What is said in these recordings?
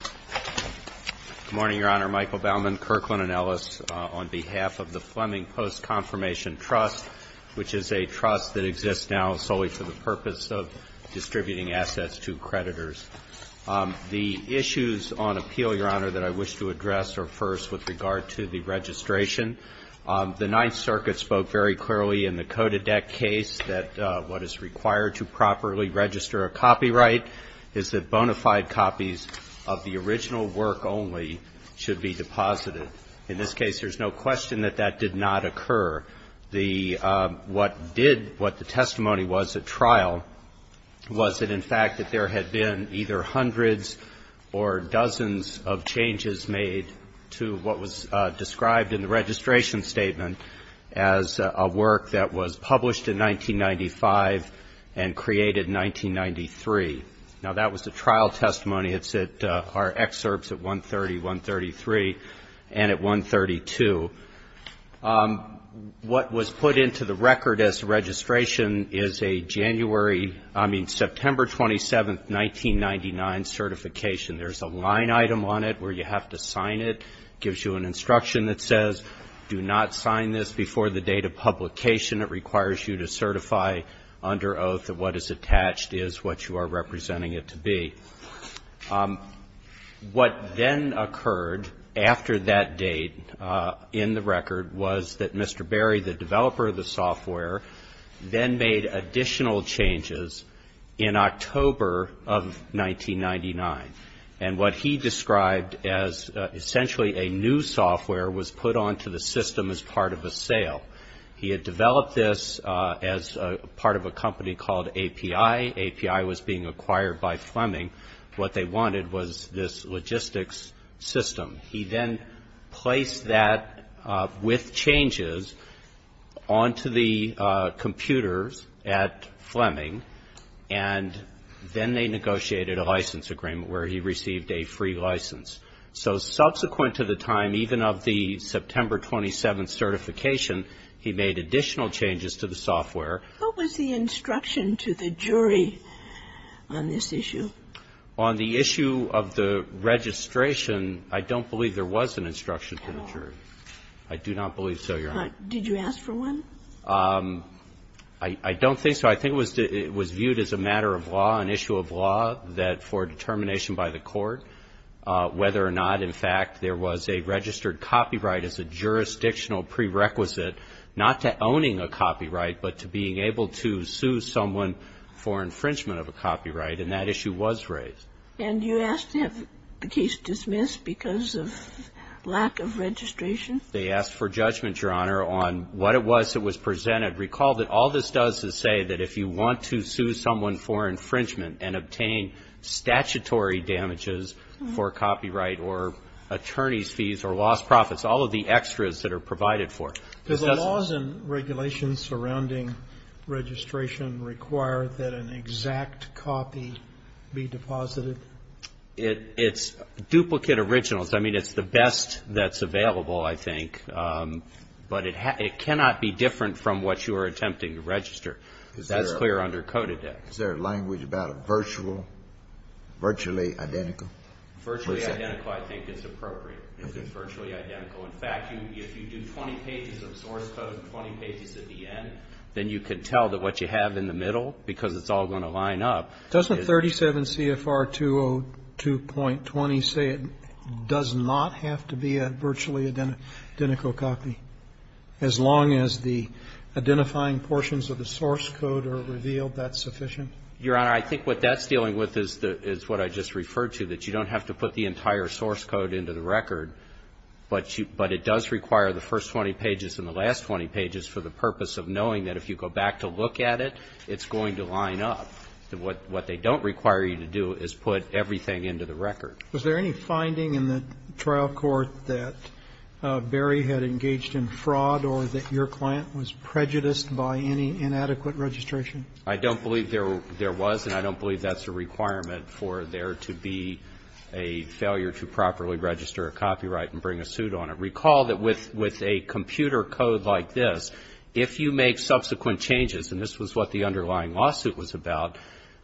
Good morning, Your Honor. Michael Bauman, Kirkland & Ellis, on behalf of the Fleming Post Confirmation Trust, which is a trust that exists now solely for the purpose of distributing assets to creditors. The issues on appeal, Your Honor, that I wish to address are first with regard to the registration. The Ninth Circuit spoke very clearly in the Kodadec case that what is required to properly register a copyright is that bona fide copies of the original work only should be deposited. In this case, there's no question that that did not occur. What did, what the testimony was at trial was that, in fact, that there had been either hundreds or dozens of changes made to what was described in the registration statement as a work that was published in 1995 and created in 1993. Now, that was the trial testimony. It's at our excerpts at 130, 133, and at 132. What was put into the record as registration is a January, I mean, September 27, 1999 certification. There's a line item on it where you have to sign it. It gives you an instruction that says, do not sign this before the date of publication. It requires you to certify under oath that what is attached is what you are representing it to be. What then occurred after that date in the record was that Mr. Berry, the developer of the software, then made additional changes in October of 1999. And what he described as essentially a new software was put onto the system as part of a sale. He had developed this as part of a company called API. API was being acquired by Fleming. What they wanted was this logistics system. He then placed that with changes onto the computers at Fleming, and then they negotiated a license agreement where he received a free license. So subsequent to the time, even of the September 27 certification, he made additional changes to the software. What was the instruction to the jury on this issue? On the issue of the registration, I don't believe there was an instruction to the jury. I do not believe so, Your Honor. Did you ask for one? I don't think so. I think it was viewed as a matter of law, an issue of law, that for determination by the court, whether or not, in fact, there was a registered copyright as a jurisdictional prerequisite not to owning a copyright but to being able to sue someone for infringement of a copyright. And that issue was raised. And you asked to have the case dismissed because of lack of registration? They asked for judgment, Your Honor, on what it was that was presented. Recall that all this does is say that if you want to sue someone for infringement and obtain statutory damages for copyright or attorney's fees or lost profits, all of the extras that are provided for it. Does the laws and regulations surrounding registration require that an exact copy be deposited? It's duplicate originals. I mean, it's the best that's available, I think. But it cannot be different from what you are attempting to register. That's clear under code of death. Is there a language about a virtual, virtually identical? Virtually identical, I think, is appropriate. It's virtually identical. In fact, if you do 20 pages of source code, 20 pages at the end, then you can tell that what you have in the middle, because it's all going to line up. Doesn't 37 CFR 202.20 say it does not have to be a virtually identical copy, as long as the identifying portions of the source code are revealed, that's sufficient? Your Honor, I think what that's dealing with is what I just referred to, that you don't have to put the entire source code into the record, but it does require the first 20 pages and the last 20 pages for the purpose of knowing that if you go back to look at it, it's going to line up. What they don't require you to do is put everything into the record. Was there any finding in the trial court that Berry had engaged in fraud or that your client was prejudiced by any inadequate registration? I don't believe there was, and I don't believe that's a requirement for there to be a failure to properly register a copyright and bring a suit on it. Recall that with a computer code like this, if you make subsequent changes, and this was what the underlying lawsuit was about,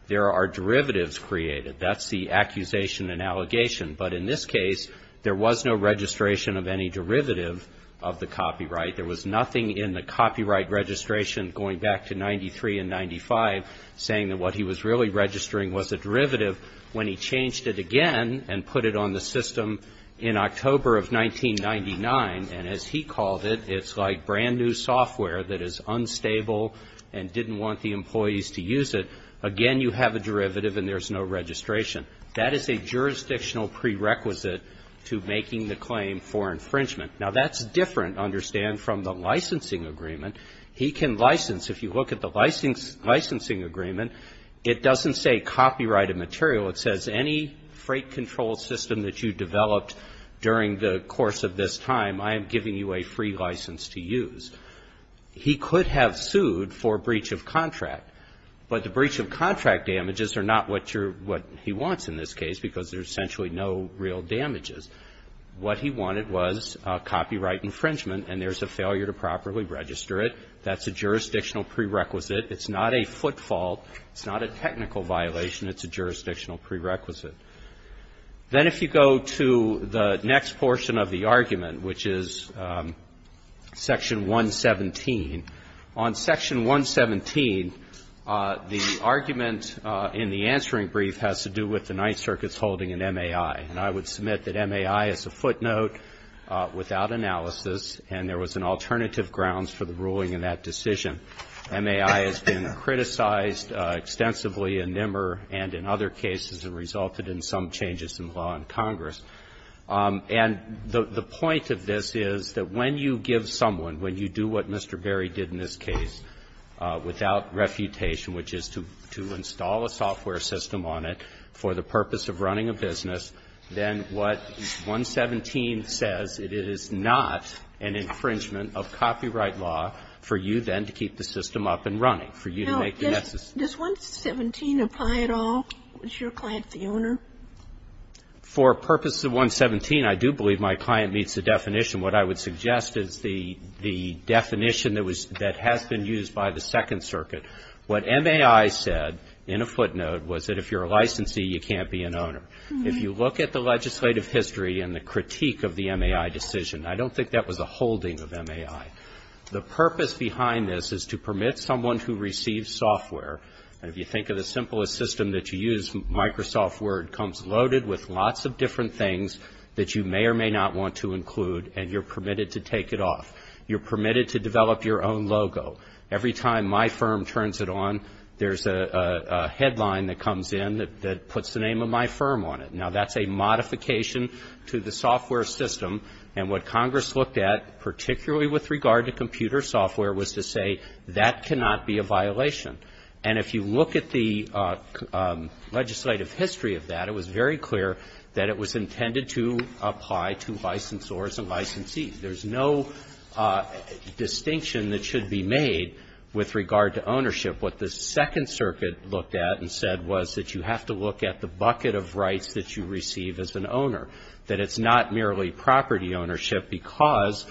there are derivatives created. That's the accusation and allegation. But in this case, there was no registration of any derivative of the copyright. There was nothing in the copyright registration going back to 93 and 95 saying that what he was really registering was a derivative. When he changed it again and put it on the system in October of 1999, and as he called it, it's like brand-new software that is unstable and didn't want the employees to use it, again, you have a derivative and there's no registration. That is a jurisdictional prerequisite to making the claim for infringement. Now, that's different, understand, from the licensing agreement. He can license. If you look at the licensing agreement, it doesn't say copyrighted material. It says any freight control system that you developed during the course of this time, I am giving you a free license to use. He could have sued for breach of contract, but the breach of contract damages are not what he wants in this case because there's essentially no real damages. What he wanted was copyright infringement, and there's a failure to properly register it. That's a jurisdictional prerequisite. It's not a footfall. It's not a technical violation. It's a jurisdictional prerequisite. Then if you go to the next portion of the argument, which is Section 117, on Section 117, the argument in the answering brief has to do with the Ninth Circuit's holding in MAI. And I would submit that MAI is a footnote without analysis, and there was an alternative grounds for the ruling in that decision. MAI has been criticized extensively in NIMR and in other cases and resulted in some changes in law in Congress. And the point of this is that when you give someone, when you do what Mr. Berry did in this case without refutation, which is to install a software system on it for the user, then what 117 says, it is not an infringement of copyright law for you then to keep the system up and running, for you to make the necessary. Now, does 117 apply at all? Is your client the owner? For purposes of 117, I do believe my client meets the definition. What I would suggest is the definition that has been used by the Second Circuit. What MAI said in a footnote was that if you're a licensee, you can't be an owner. If you look at the legislative history and the critique of the MAI decision, I don't think that was a holding of MAI. The purpose behind this is to permit someone who receives software, and if you think of the simplest system that you use, Microsoft Word, comes loaded with lots of different things that you may or may not want to include, and you're permitted to take it off. You're permitted to develop your own logo. Every time my firm turns it on, there's a headline that comes in that puts the name of my firm on it. Now, that's a modification to the software system, and what Congress looked at, particularly with regard to computer software, was to say that cannot be a violation. And if you look at the legislative history of that, it was very clear that it was intended to apply to licensors and licensees. There's no distinction that should be made with regard to ownership. What the Second Circuit looked at and said was that you have to look at the bucket of rights that you receive as an owner, that it's not merely property ownership, because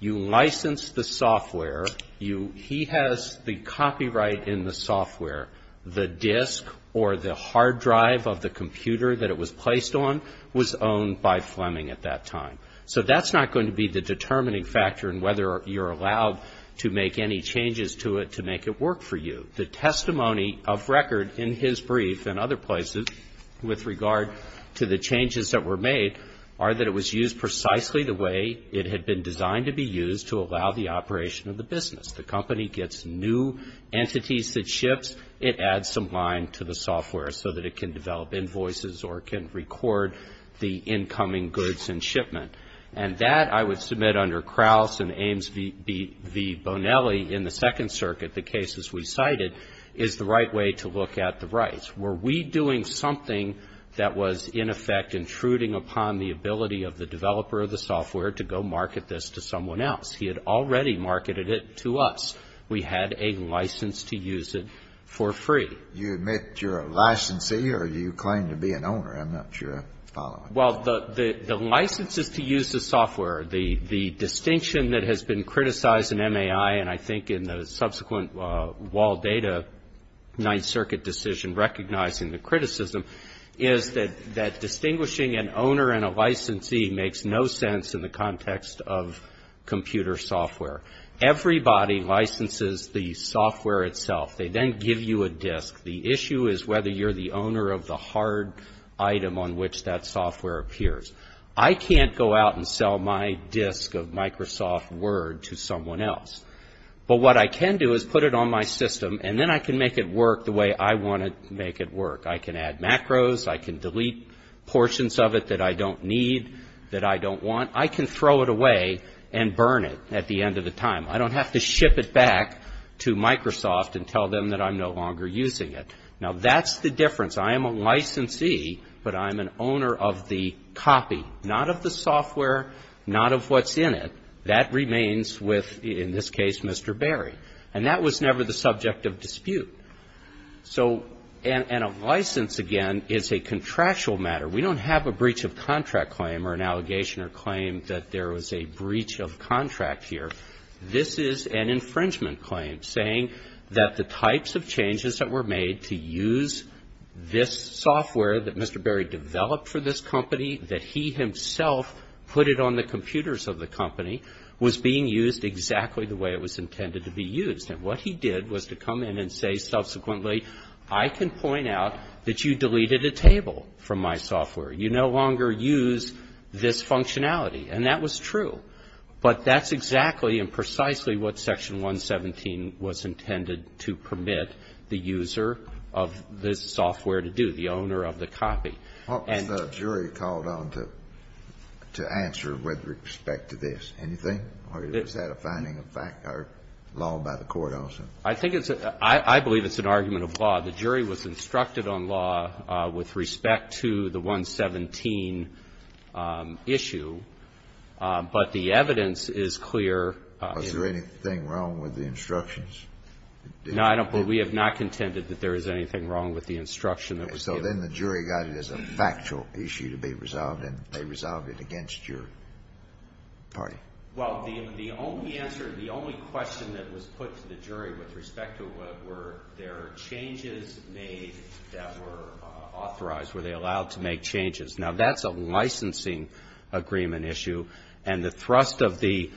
you license the software. He has the copyright in the software. The disk or the hard drive of the computer that it was placed on was owned by Fleming at that time. So that's not going to be the determining factor in whether you're allowed to make any changes to it to make it work for you. The testimony of record in his brief and other places with regard to the changes that were made are that it was used precisely the way it had been designed to be used to allow the operation of the business. The company gets new entities that ships. It adds some line to the software so that it can develop invoices or can record the incoming goods and shipment. And that, I would submit under Krauss and Ames v. Bonelli in the Second Circuit, the cases we cited, is the right way to look at the rights. Were we doing something that was in effect intruding upon the ability of the developer of the software to go market this to someone else? He had already marketed it to us. We had a license to use it for free. You admit you're a licensee or do you claim to be an owner? I'm not sure I follow. Well, the license is to use the software. The distinction that has been criticized in MAI and I think in the subsequent wall data Ninth Circuit decision recognizing the criticism is that distinguishing an owner and a licensee makes no sense in the context of computer software. Everybody licenses the software itself. They then give you a disk. The issue is whether you're the owner of the hard item on which that software appears. I can't go out and sell my disk of Microsoft Word to someone else. But what I can do is put it on my system and then I can make it work the way I want to make it work. I can add macros. I can delete portions of it that I don't need, that I don't want. I can throw it away and burn it at the end of the time. I don't have to ship it back to Microsoft and tell them that I'm no longer using it. Now, that's the difference. I am a licensee, but I'm an owner of the copy, not of the software, not of what's in it. That remains with, in this case, Mr. Berry. And that was never the subject of dispute. So, and a license, again, is a contractual matter. We don't have a breach of contract claim or an allegation or claim that there was a breach of contract here. This is an infringement claim saying that the types of changes that were made to use this software that Mr. Berry developed for this company, that he himself put it on the computers of the company, was being used exactly the way it was intended to be used. And what he did was to come in and say subsequently, I can point out that you deleted a table from my software. You no longer use this functionality. And that was true. But that's exactly and precisely what Section 117 was intended to permit the user of this software to do, the owner of the copy. And the jury called on to answer with respect to this. Anything? Or is that a finding of fact or law by the court also? I think it's a, I believe it's an argument of law. The jury was instructed on law with respect to the 117 issue. But the evidence is clear. Was there anything wrong with the instructions? No, I don't believe. We have not contended that there is anything wrong with the instruction that was given. So then the jury got it as a factual issue to be resolved, and they resolved it against your party. Well, the only answer, the only question that was put to the jury with respect to were there changes made that were authorized, were they allowed to make changes. Now, that's a licensing agreement issue, and the thrust of the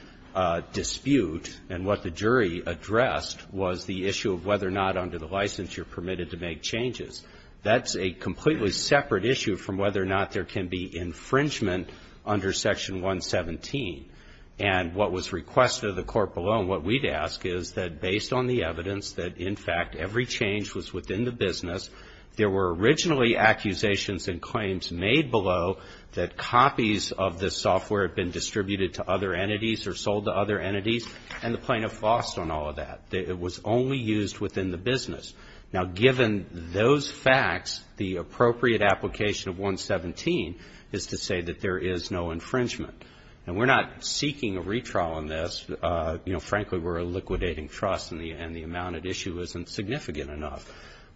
dispute and what the jury addressed was the issue of whether or not under the license you're permitted to make changes. That's a completely separate issue from whether or not there can be infringement under Section 117. And what was requested of the court below and what we'd ask is that based on the evidence that, in fact, every change was within the business, there were originally accusations and claims made below that copies of the software had been distributed to other entities or sold to other entities, and the plaintiff lost on all of that. It was only used within the business. Now, given those facts, the appropriate application of 117 is to say that there is no infringement. And we're not seeking a retrial on this. You know, frankly, we're a liquidating trust, and the amount at issue isn't significant enough.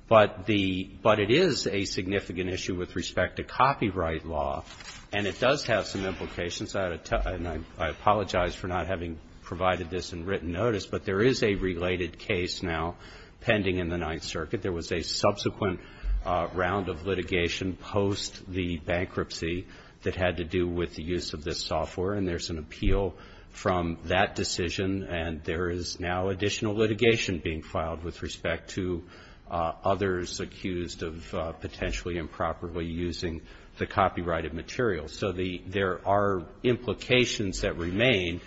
But it is a significant issue with respect to copyright law, and it does have some implications. And I apologize for not having provided this in written notice, but there is a related case now pending in the Ninth Circuit. There was a subsequent round of litigation post the bankruptcy that had to do with the use of this software, and there's an appeal from that decision, and there is now additional litigation being filed with respect to others accused of potentially improperly using the copyrighted material. So there are implications that remain,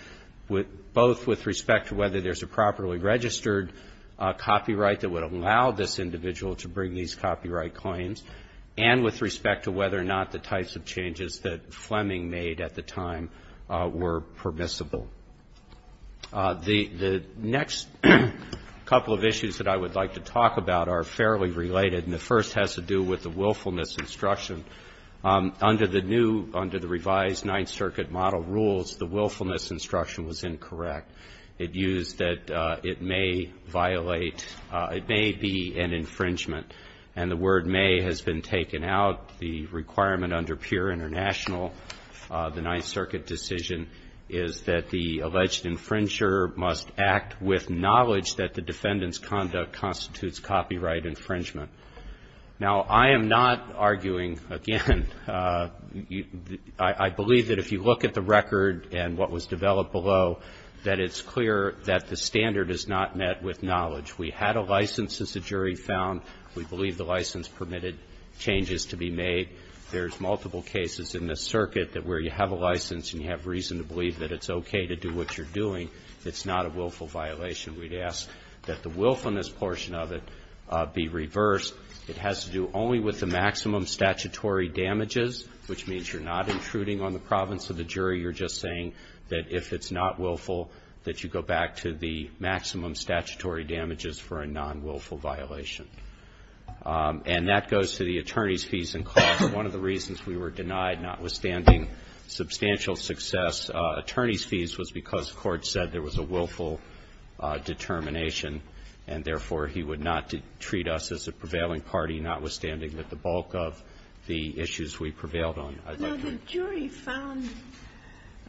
both with respect to whether there's a properly registered copyright that would allow this individual to bring these copyright claims, and with respect to whether or not the types of changes that Fleming made at the time were permissible. The next couple of issues that I would like to talk about are fairly related, and the first has to do with the willfulness instruction. Under the revised Ninth Circuit model rules, the willfulness instruction was incorrect. It used that it may violate, it may be an infringement. And the word may has been taken out. The requirement under pure international, the Ninth Circuit decision, is that the alleged infringer must act with knowledge that the defendant's conduct constitutes copyright infringement. Now, I am not arguing, again, I believe that if you look at the record and what was developed below, that it's clear that the standard is not met with knowledge. We had a license, as the jury found. We believe the license permitted changes to be made. There's multiple cases in this circuit that where you have a license and you have reason to believe that it's okay to do what you're doing, it's not a willful violation. We'd ask that the willfulness portion of it be reversed. It has to do only with the maximum statutory damages, that if it's not willful, that you go back to the maximum statutory damages for a non-willful violation. And that goes to the attorney's fees and costs. One of the reasons we were denied, notwithstanding substantial success, attorney's fees was because the Court said there was a willful determination, and therefore he would not treat us as a prevailing party, notwithstanding that the bulk of the issues we prevailed on. The jury found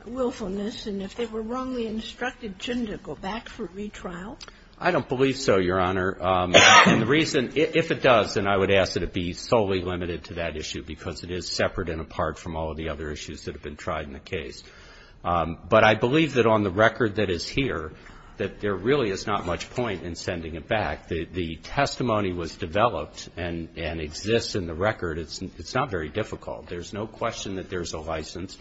willfulness, and if they were wrongly instructed, shouldn't it go back for retrial? I don't believe so, Your Honor. And the reason, if it does, then I would ask that it be solely limited to that issue because it is separate and apart from all of the other issues that have been tried in the case. But I believe that on the record that is here, that there really is not much point in sending it back. The testimony was developed and exists in the record. It's not very difficult. There's no question that there's a license.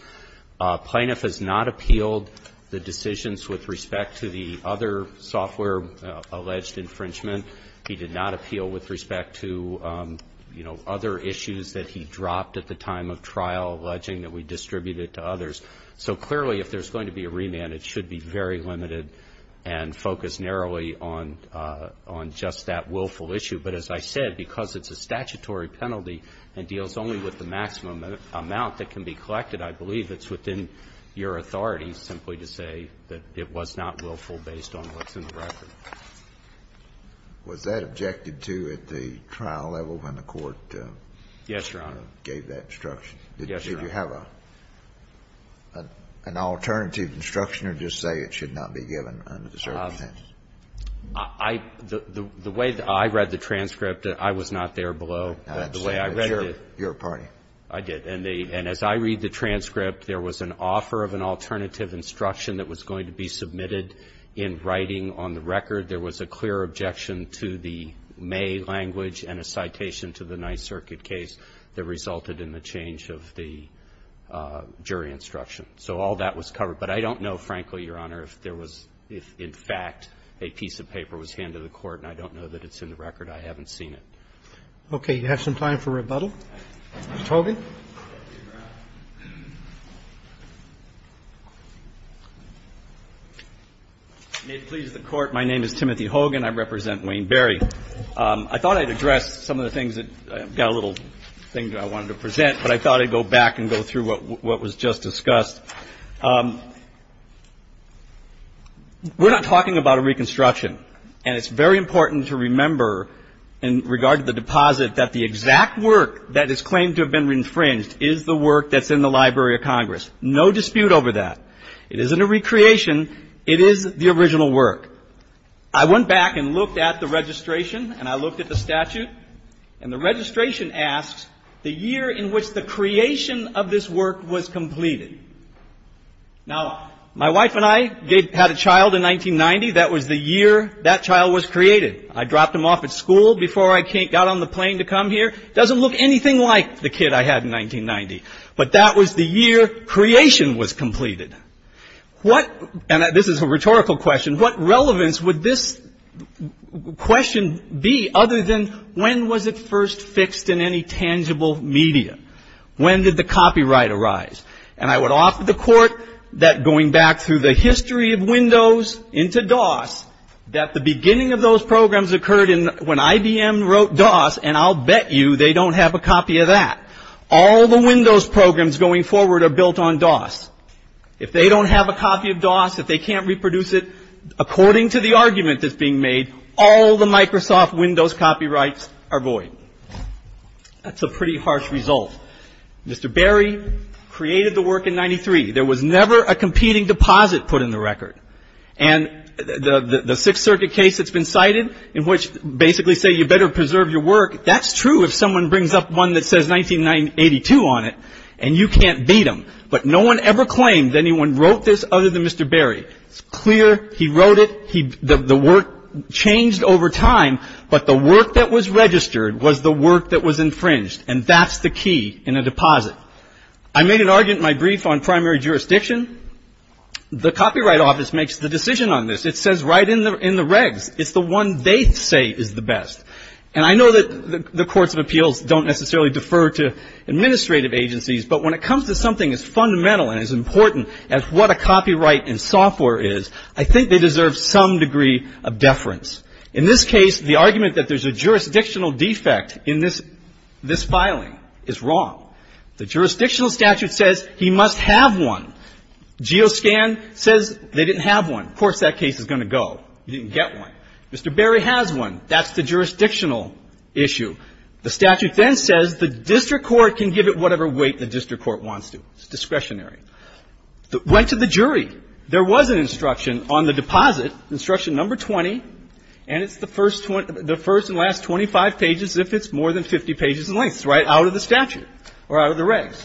Plaintiff has not appealed the decisions with respect to the other software-alleged infringement. He did not appeal with respect to, you know, other issues that he dropped at the time of trial alleging that we distributed to others. So clearly, if there's going to be a remand, it should be very limited and focused narrowly on just that willful issue. But as I said, because it's a statutory penalty and deals only with the maximum amount that can be collected, I believe it's within your authority simply to say that it was not willful based on what's in the record. Was that objected to at the trial level when the Court gave that instruction? Yes, Your Honor. Did you have an alternative instruction or just say it should not be given under the circumstances? I — the way that I read the transcript, I was not there below the way I read it. Your party. I did. And as I read the transcript, there was an offer of an alternative instruction that was going to be submitted in writing on the record. There was a clear objection to the May language and a citation to the Ninth Circuit case that resulted in the change of the jury instruction. So all that was covered. But I don't know, frankly, Your Honor, if there was — if, in fact, a piece of paper was handed to the Court, and I don't know that it's in the record. I haven't seen it. Okay. You have some time for rebuttal. Mr. Hogan. May it please the Court, my name is Timothy Hogan. I represent Wayne Berry. I thought I'd address some of the things that — I've got a little thing that I wanted to present, but I thought I'd go back and go through what was just discussed. We're not talking about a reconstruction, and it's very important to remember in regard to the deposit that the exact work that is claimed to have been infringed is the work that's in the Library of Congress. No dispute over that. It isn't a recreation. It is the original work. I went back and looked at the registration and I looked at the statute, and the registration asks the year in which the creation of this work was completed. Now, my wife and I had a child in 1990. That was the year that child was created. I dropped him off at school before I got on the plane to come here. It doesn't look anything like the kid I had in 1990, but that was the year creation was completed. What — and this is a rhetorical question — what relevance would this question be other than when was it first fixed in any tangible media? When did the copyright arise? And I would offer the court that going back through the history of Windows into DOS, that the beginning of those programs occurred when IBM wrote DOS, and I'll bet you they don't have a copy of that. All the Windows programs going forward are built on DOS. If they don't have a copy of DOS, if they can't reproduce it according to the argument that's being made, all the Microsoft Windows copyrights are void. That's a pretty harsh result. Mr. Berry created the work in 93. There was never a competing deposit put in the record. And the Sixth Circuit case that's been cited, in which basically say you better preserve your work, that's true if someone brings up one that says 1982 on it, and you can't beat them. But no one ever claimed anyone wrote this other than Mr. Berry. It's clear he wrote it. The work changed over time, but the work that was registered was the work that was infringed, and that's the key in a deposit. I made an argument in my brief on primary jurisdiction. The Copyright Office makes the decision on this. It says right in the regs. It's the one they say is the best. And I know that the courts of appeals don't necessarily defer to administrative agencies, but when it comes to something as fundamental and as important as what a copyright in software is, I think they deserve some degree of deference. In this case, the argument that there's a jurisdictional defect in this filing is wrong. The jurisdictional statute says he must have one. GeoScan says they didn't have one. Of course that case is going to go. You didn't get one. Mr. Berry has one. That's the jurisdictional issue. The statute then says the district court can give it whatever weight the district court wants to. It's discretionary. Went to the jury. There was an instruction on the deposit, instruction number 20, and it's the first and last 25 pages if it's more than 50 pages in length. It's right out of the statute or out of the regs.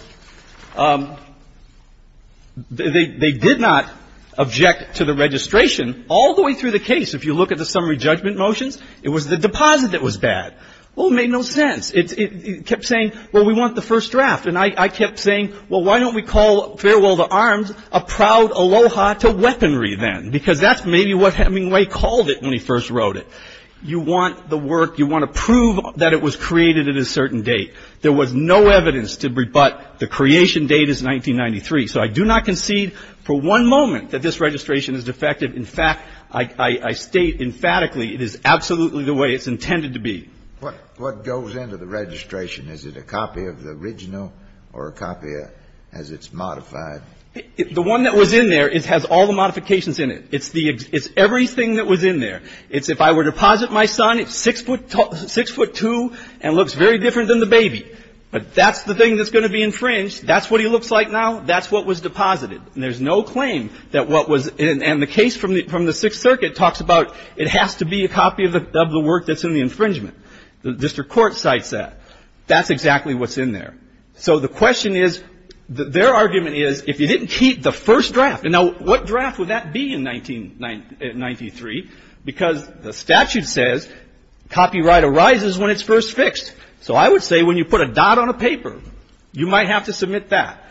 They did not object to the registration all the way through the case. If you look at the summary judgment motions, it was the deposit that was bad. Well, it made no sense. It kept saying, well, we want the first draft. And I kept saying, well, why don't we call Farewell to Arms a proud aloha to weaponry then, because that's maybe what Hemingway called it when he first wrote it. You want the work. You want to prove that it was created at a certain date. There was no evidence to rebut the creation date is 1993. So I do not concede for one moment that this registration is defective. In fact, I state emphatically it is absolutely the way it's intended to be. Kennedy, what goes into the registration? Is it a copy of the original or a copy as it's modified? The one that was in there, it has all the modifications in it. It's the ex — it's everything that was in there. It's if I were to deposit my son, it's 6'2 and looks very different than the baby. But that's the thing that's going to be infringed. That's what he looks like now. That's what was deposited. And there's no claim that what was — and the case from the Sixth Circuit talks about it has to be a copy of the work that's in the infringement. The district court cites that. That's exactly what's in there. So the question is — their argument is if you didn't keep the first draft — and now, what draft would that be in 1993? Because the statute says copyright arises when it's first fixed. So I would say when you put a dot on a paper, you might have to submit that.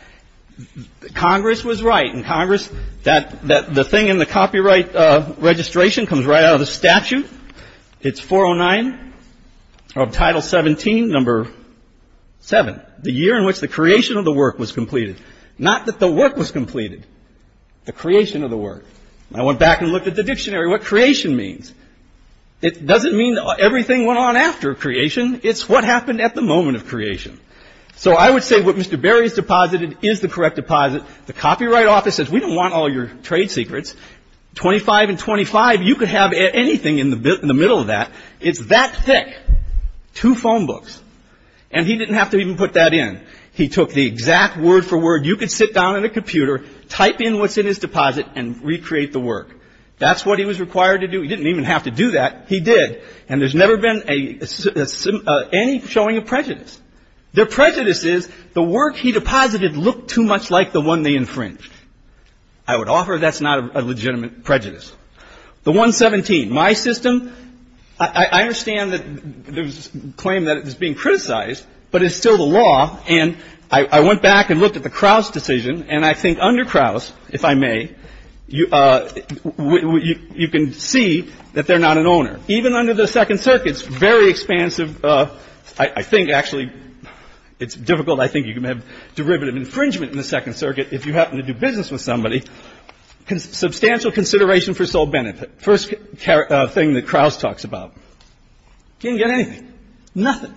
Congress was right. And Congress — that — the thing in the copyright registration comes right out of the statute. It's 409 of Title 17, Number 7. The year in which the creation of the work was completed. Not that the work was completed. The creation of the work. I went back and looked at the dictionary. What creation means? It doesn't mean everything went on after creation. It's what happened at the moment of creation. So I would say what Mr. Berry has deposited is the correct deposit. The Copyright Office says we don't want all your trade secrets. Twenty-five and twenty-five, you could have anything in the middle of that. It's that thick. Two phone books. And he didn't have to even put that in. He took the exact word for word. You could sit down at a computer, type in what's in his deposit, and recreate the work. That's what he was required to do. He didn't even have to do that. He did. And there's never been any showing of prejudice. Their prejudice is the work he deposited looked too much like the one they infringed. I would offer that's not a legitimate prejudice. The 117. My system, I understand that there's claim that it's being criticized, but it's still the law. And I went back and looked at the Crouse decision, and I think under Crouse, if I may, you can see that they're not an owner. Even under the Second Circuit, it's very expansive. I think, actually, it's difficult. I think you can have derivative infringement in the Second Circuit if you happen to do business with somebody. Substantial consideration for sole benefit. First thing that Crouse talks about. Didn't get anything. Nothing.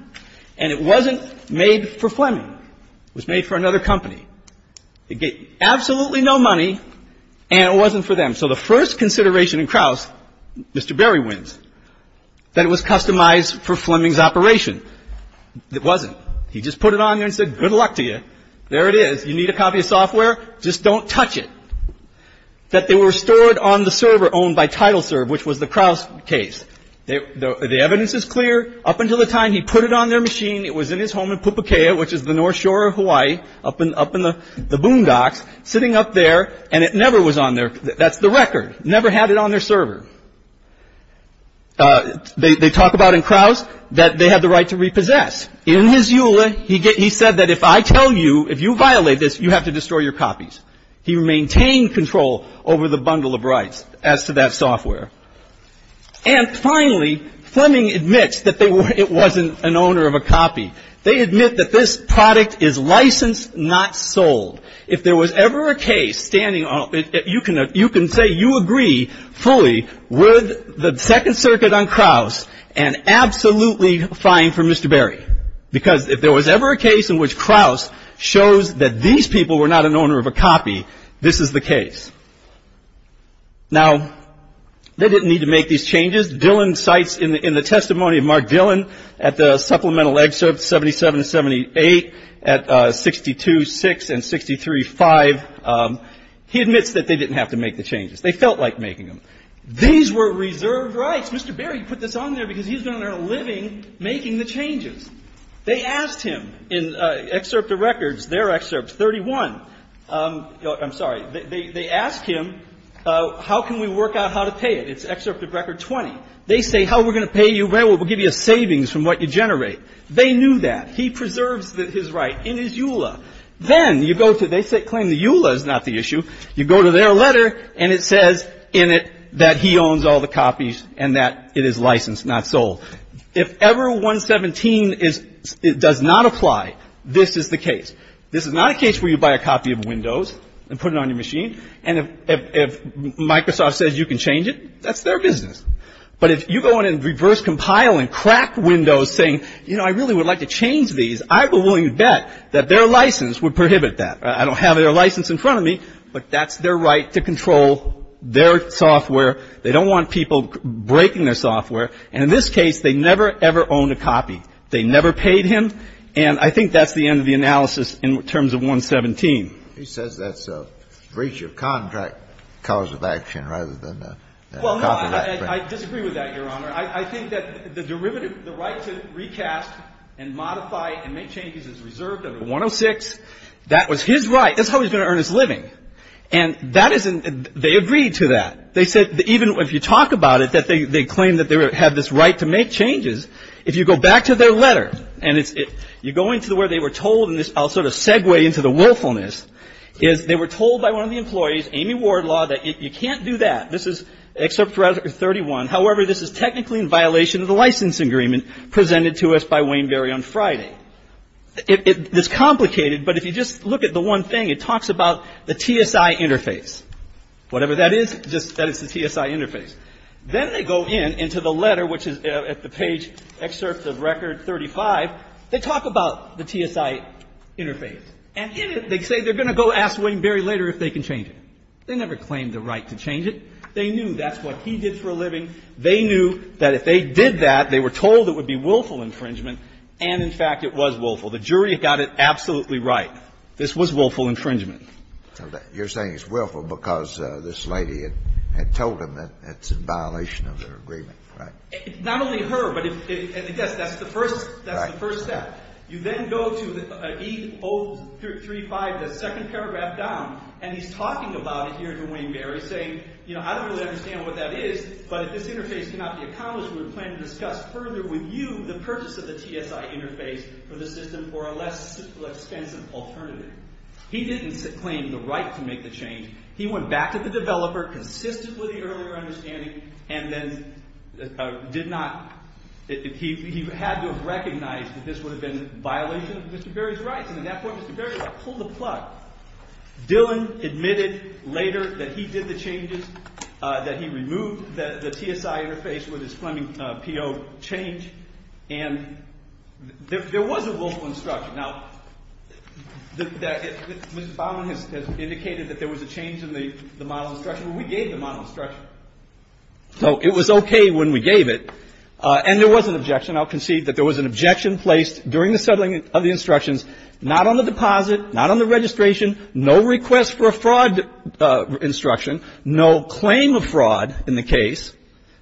And it wasn't made for Fleming. It was made for another company. It gave absolutely no money, and it wasn't for them. So the first consideration in Crouse, Mr. Berry wins, that it was customized for Fleming's operation. It wasn't. He just put it on there and said, good luck to you. There it is. You need a copy of software? Just don't touch it. That they were stored on the server owned by TitleServe, which was the Crouse case. The evidence is clear. Up until the time he put it on their machine, it was in his home in Pupukea, which is the north shore of Hawaii, up in the boondocks, sitting up there, and it never was on there. That's the record. Never had it on their server. They talk about in Crouse that they had the right to repossess. In his EULA, he said that if I tell you, if you violate this, you have to destroy your copies. He maintained control over the bundle of rights as to that software. And finally, Fleming admits that it wasn't an owner of a copy. They admit that this product is licensed, not sold. If there was ever a case standing, you can say you agree fully with the Second Circuit on Crouse and absolutely fine for Mr. Berry. Because if there was ever a case in which Crouse shows that these people were not an owner of a copy, this is the case. Now, they didn't need to make these changes. Dillon cites in the testimony of Mark Dillon at the supplemental excerpts 77 and 78, at 62.6 and 63.5, he admits that they didn't have to make the changes. They felt like making them. These were reserved rights. Mr. Berry put this on there because he's been on there a living making the changes. They asked him in excerpt of records, their excerpts, 31. I'm sorry. They asked him, how can we work out how to pay it? It's excerpt of record 20. They say, how are we going to pay you? Well, we'll give you a savings from what you generate. They knew that. He preserves his right in his EULA. Then you go to they claim the EULA is not the issue. You go to their letter and it says in it that he owns all the copies and that it is licensed, not sold. If ever 117 does not apply, this is the case. This is not a case where you buy a copy of Windows and put it on your machine. And if Microsoft says you can change it, that's their business. But if you go in and reverse compile and crack Windows saying, you know, I really would like to change these, I will willingly bet that their license would prohibit that. I don't have their license in front of me, but that's their right to control their software. They don't want people breaking their software. And in this case, they never, ever owned a copy. They never paid him. And I think that's the end of the analysis in terms of 117. He says that's a breach of contract cause of action rather than a copyright. Well, no, I disagree with that, Your Honor. I think that the derivative, the right to recast and modify and make changes is reserved under 106. That was his right. That's how he's going to earn his living. And that isn't they agreed to that. They said even if you talk about it, that they claim that they have this right to make changes. If you go back to their letter and you go into where they were told, and I'll sort of segue into the willfulness, is they were told by one of the employees, Amy Wardlaw, that you can't do that. This is excerpt 31. However, this is technically in violation of the license agreement presented to us by Wayne Berry on Friday. It's complicated, but if you just look at the one thing, it talks about the TSI interface. Whatever that is, that is the TSI interface. Then they go in into the letter, which is at the page, excerpt of record 35. They talk about the TSI interface. And in it, they say they're going to go ask Wayne Berry later if they can change it. They never claimed the right to change it. They knew that's what he did for a living. They knew that if they did that, they were told it would be willful infringement. And, in fact, it was willful. The jury got it absolutely right. This was willful infringement. You're saying it's willful because this lady had told them that it's in violation of their agreement, right? Not only her, but, yes, that's the first step. You then go to E035, the second paragraph down, and he's talking about it here to Wayne Berry, saying, you know, I don't really understand what that is, but if this interface cannot be accomplished, we plan to discuss further with you the purpose of the TSI interface for the system for a less expensive alternative. He didn't claim the right to make the change. He went back to the developer consistently with the earlier understanding and then did not – he had to have recognized that this would have been a violation of Mr. Berry's rights. And at that point, Mr. Berry pulled the plug. Dylan admitted later that he did the changes, that he removed the TSI interface with his Fleming PO change, and there was a willful instruction. Now, Mr. Baumann has indicated that there was a change in the model instruction. We gave the model instruction. So it was okay when we gave it, and there was an objection. I'll concede that there was an objection placed during the settling of the instructions, not on the deposit, not on the registration, no request for a fraud instruction, no claim of fraud in the case,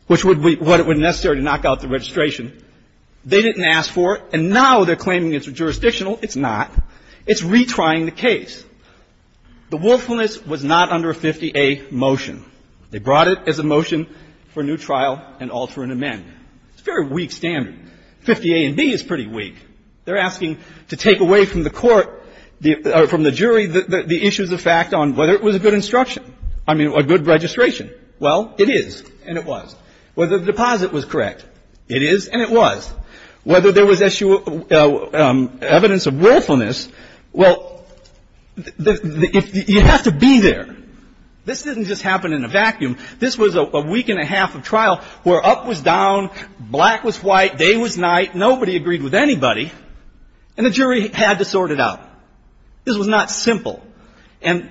which would be what it would necessarily knock out the registration. They didn't ask for it, and now they're claiming it's jurisdictional. It's not. It's retrying the case. The willfulness was not under a 50A motion. They brought it as a motion for new trial and alter and amend. It's a very weak standard. 50A and B is pretty weak. They're asking to take away from the court, from the jury, the issues of fact on whether it was a good instruction, I mean, a good registration. Well, it is, and it was. Whether the deposit was correct. It is, and it was. Whether there was evidence of willfulness. Well, you have to be there. This didn't just happen in a vacuum. This was a week and a half of trial where up was down, black was white, day was night. Nobody agreed with anybody, and the jury had to sort it out. This was not simple. And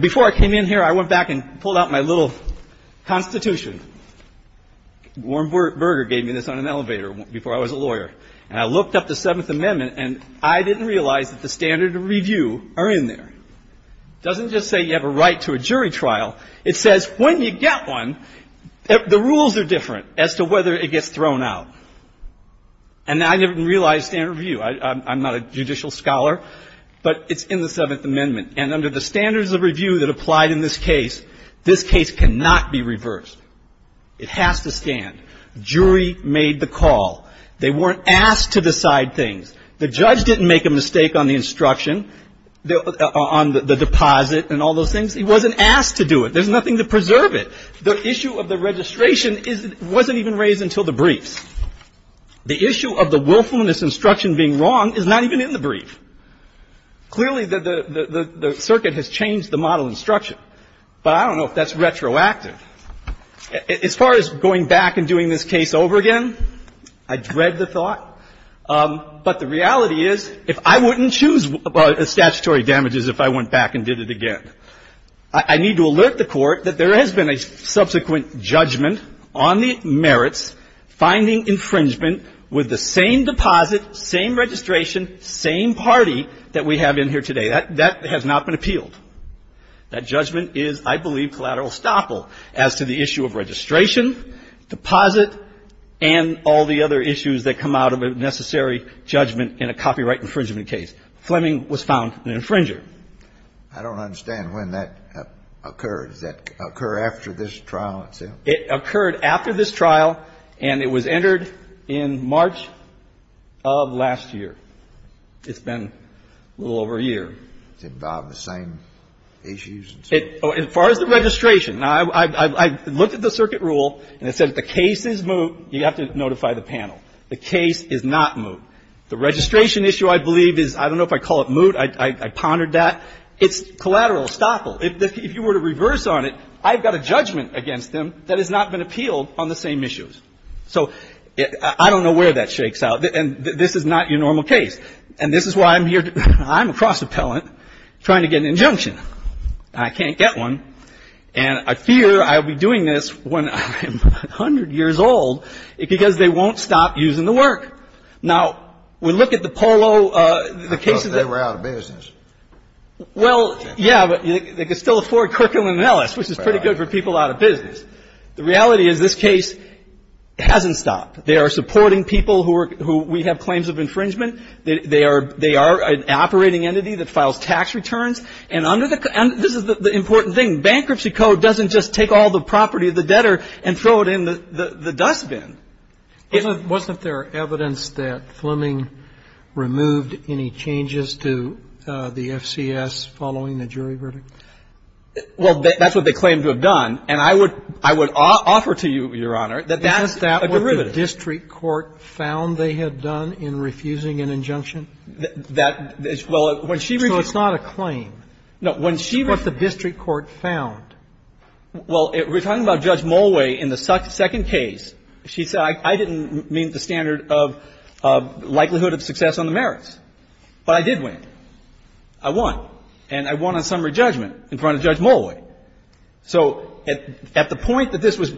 before I came in here, I went back and pulled out my little Constitution, Warren Burger gave me this on an elevator before I was a lawyer, and I looked up the Seventh Amendment, and I didn't realize that the standard of review are in there. It doesn't just say you have a right to a jury trial. It says when you get one, the rules are different as to whether it gets thrown out. And I didn't realize standard of review. I'm not a judicial scholar, but it's in the Seventh Amendment. And under the standards of review that applied in this case, this case cannot be reversed. It has to stand. Jury made the call. They weren't asked to decide things. The judge didn't make a mistake on the instruction, on the deposit and all those things. He wasn't asked to do it. There's nothing to preserve it. The issue of the registration wasn't even raised until the briefs. The issue of the willfulness instruction being wrong is not even in the brief. Clearly, the circuit has changed the model instruction, but I don't know if that's retroactive. As far as going back and doing this case over again, I dread the thought. But the reality is if I wouldn't choose statutory damages if I went back and did it again, I need to alert the Court that there has been a subsequent judgment on the merits, finding infringement with the same deposit, same registration, same party that we have in here today. That has not been appealed. That judgment is, I believe, collateral estoppel. As to the issue of registration, deposit, and all the other issues that come out of a necessary judgment in a copyright infringement case, Fleming was found an infringer. I don't understand when that occurred. Does that occur after this trial itself? It occurred after this trial, and it was entered in March of last year. It's been a little over a year. Does it involve the same issues? As far as the registration, I looked at the circuit rule, and it said if the case is moot, you have to notify the panel. The case is not moot. The registration issue, I believe, is I don't know if I call it moot. I pondered that. It's collateral estoppel. If you were to reverse on it, I've got a judgment against them that has not been appealed on the same issues. So I don't know where that shakes out. And this is not your normal case. And this is why I'm here. I'm a cross-appellant trying to get an injunction. I can't get one. And I fear I'll be doing this when I'm 100 years old because they won't stop using the work. Now, we look at the Polo, the cases that were out of business. Well, yeah, but they could still afford Kirkland & Ellis, which is pretty good for people out of business. The reality is this case hasn't stopped. They are supporting people who we have claims of infringement. They are an operating entity that files tax returns. And this is the important thing. Bankruptcy code doesn't just take all the property of the debtor and throw it in the dustbin. Wasn't there evidence that Fleming removed any changes to the FCS following the jury verdict? Well, that's what they claimed to have done. And I would offer to you, Your Honor, that that's a derivative. Is that what the district court found they had done in refusing an injunction? So it's not a claim. No. What the district court found. Well, we're talking about Judge Mulway in the second case. She said I didn't meet the standard of likelihood of success on the merits. But I did win. I won. And I won on summary judgment in front of Judge Mulway. So at the point that this was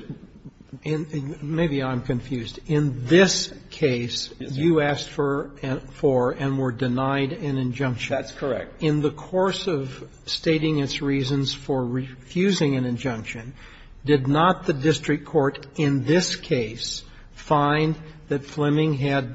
---- Maybe I'm confused. In this case, you asked for and were denied an injunction. That's correct. In the course of stating its reasons for refusing an injunction, did not the district court in this case find that Fleming had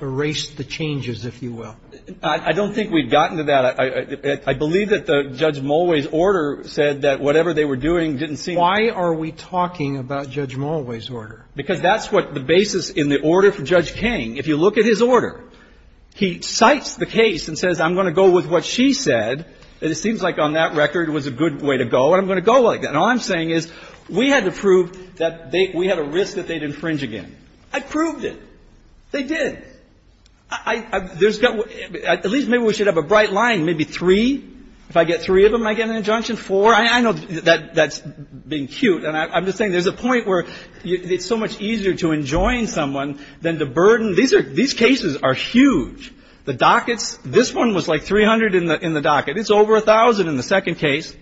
erased the changes, if you will? I don't think we've gotten to that. I believe that Judge Mulway's order said that whatever they were doing didn't seem ---- Why are we talking about Judge Mulway's order? Because that's what the basis in the order for Judge King. If you look at his order, he cites the case and says I'm going to go with what she said. And it seems like on that record it was a good way to go. And I'm going to go like that. And all I'm saying is we had to prove that we had a risk that they'd infringe again. I proved it. They did. At least maybe we should have a bright line, maybe three. If I get three of them, I get an injunction, four. I know that's being cute. And I'm just saying there's a point where it's so much easier to enjoin someone than to burden. These cases are huge. The dockets, this one was like 300 in the docket. It's over 1,000 in the second case.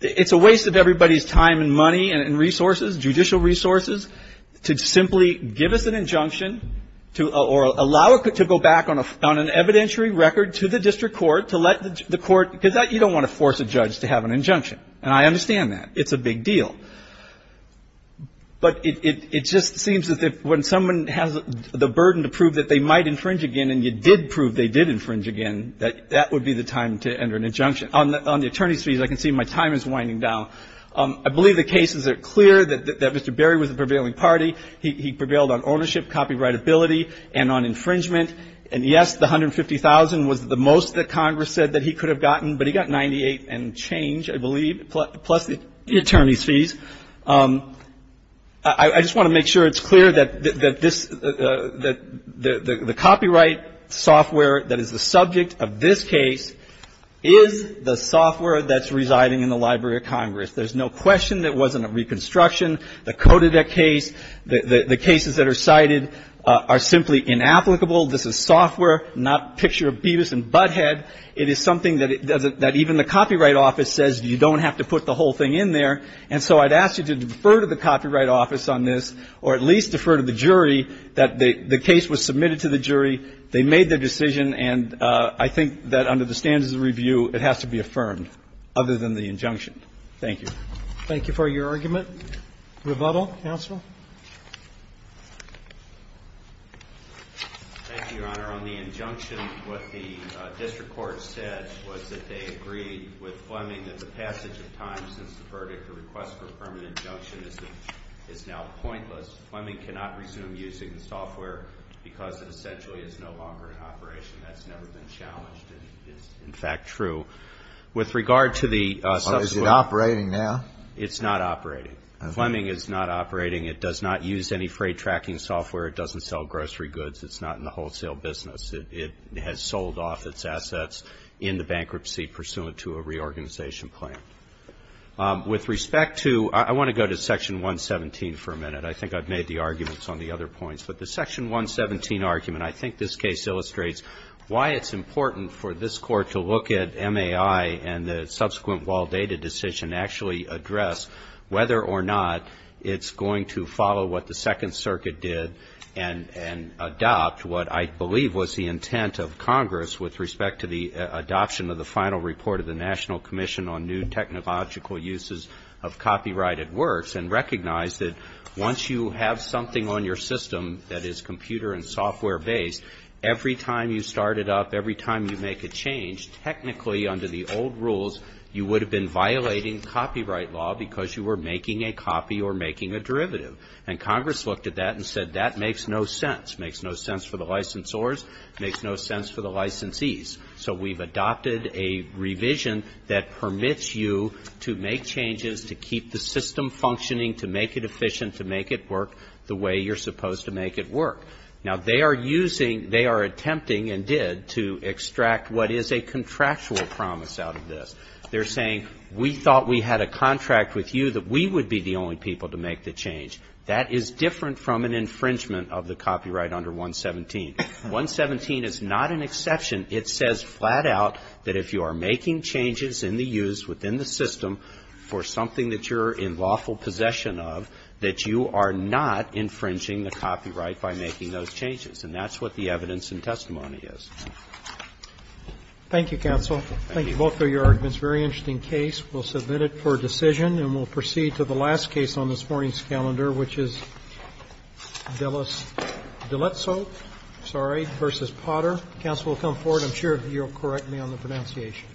It's a waste of everybody's time and money and resources, judicial resources, to simply give us an injunction or allow it to go back on an evidentiary record to the district court to let the court because you don't want to force a judge to have an injunction. And I understand that. It's a big deal. But it just seems that when someone has the burden to prove that they might infringe again and you did prove they did infringe again, that that would be the time to enter an injunction. On the attorney's fees, I can see my time is winding down. I believe the cases are clear that Mr. Berry was a prevailing party. He prevailed on ownership, copyrightability, and on infringement. And, yes, the $150,000 was the most that Congress said that he could have gotten, but he got 98 and change, I believe, plus the attorney's fees. I just want to make sure it's clear that the copyright software that is the subject of this case is the software There's no question that it wasn't a reconstruction. The code of that case, the cases that are cited are simply inapplicable. This is software, not a picture of Beavis and Butthead. It is something that even the Copyright Office says you don't have to put the whole thing in there. And so I'd ask you to defer to the Copyright Office on this or at least defer to the jury that the case was submitted to the jury. They made their decision, and I think that under the standards of review, it has to be affirmed other than the injunction. Thank you. Thank you for your argument. Rebuttal? Counsel? Thank you, Your Honor. On the injunction, what the district court said was that they agreed with Fleming that the passage of time since the verdict or request for permanent injunction is now pointless. Fleming cannot resume using the software because it essentially is no longer in operation. That's never been challenged, and it's, in fact, true. With regard to the subsequent ---- Well, is it operating now? It's not operating. Fleming is not operating. It does not use any freight tracking software. It doesn't sell grocery goods. It's not in the wholesale business. It has sold off its assets in the bankruptcy pursuant to a reorganization plan. With respect to ---- I want to go to Section 117 for a minute. I think I've made the arguments on the other points, but the Section 117 argument, I think this case illustrates why it's important for this Court to look at MAI and the subsequent Waldata decision to actually address whether or not it's going to follow what the Second Circuit did and adopt what I believe was the intent of Congress with respect to the adoption of the final report of the National Commission on New Technological Uses of Copyrighted Works and recognize that once you have something on your system that is computer and software-based, every time you start it up, every time you make a change, technically, under the old rules, you would have been violating copyright law because you were making a copy or making a derivative. And Congress looked at that and said that makes no sense. It makes no sense for the licensors. It makes no sense for the licensees. So we've adopted a revision that permits you to make changes, to keep the system functioning, to make it efficient, to make it work the way you're supposed to make it work. Now, they are using, they are attempting and did to extract what is a contractual promise out of this. They're saying we thought we had a contract with you that we would be the only people to make the change. That is different from an infringement of the copyright under 117. 117 is not an exception. It says flat out that if you are making changes in the use within the system for something that you're in lawful possession of, that you are not infringing the copyright by making those changes. And that's what the evidence and testimony is. Roberts. Thank you, counsel. Thank you both for your arguments. Very interesting case. We'll submit it for decision, and we'll proceed to the last case on this morning's calendar, which is Dillettsoe v. Potter. Counsel will come forward. I'm sure you'll correct me on the pronunciation.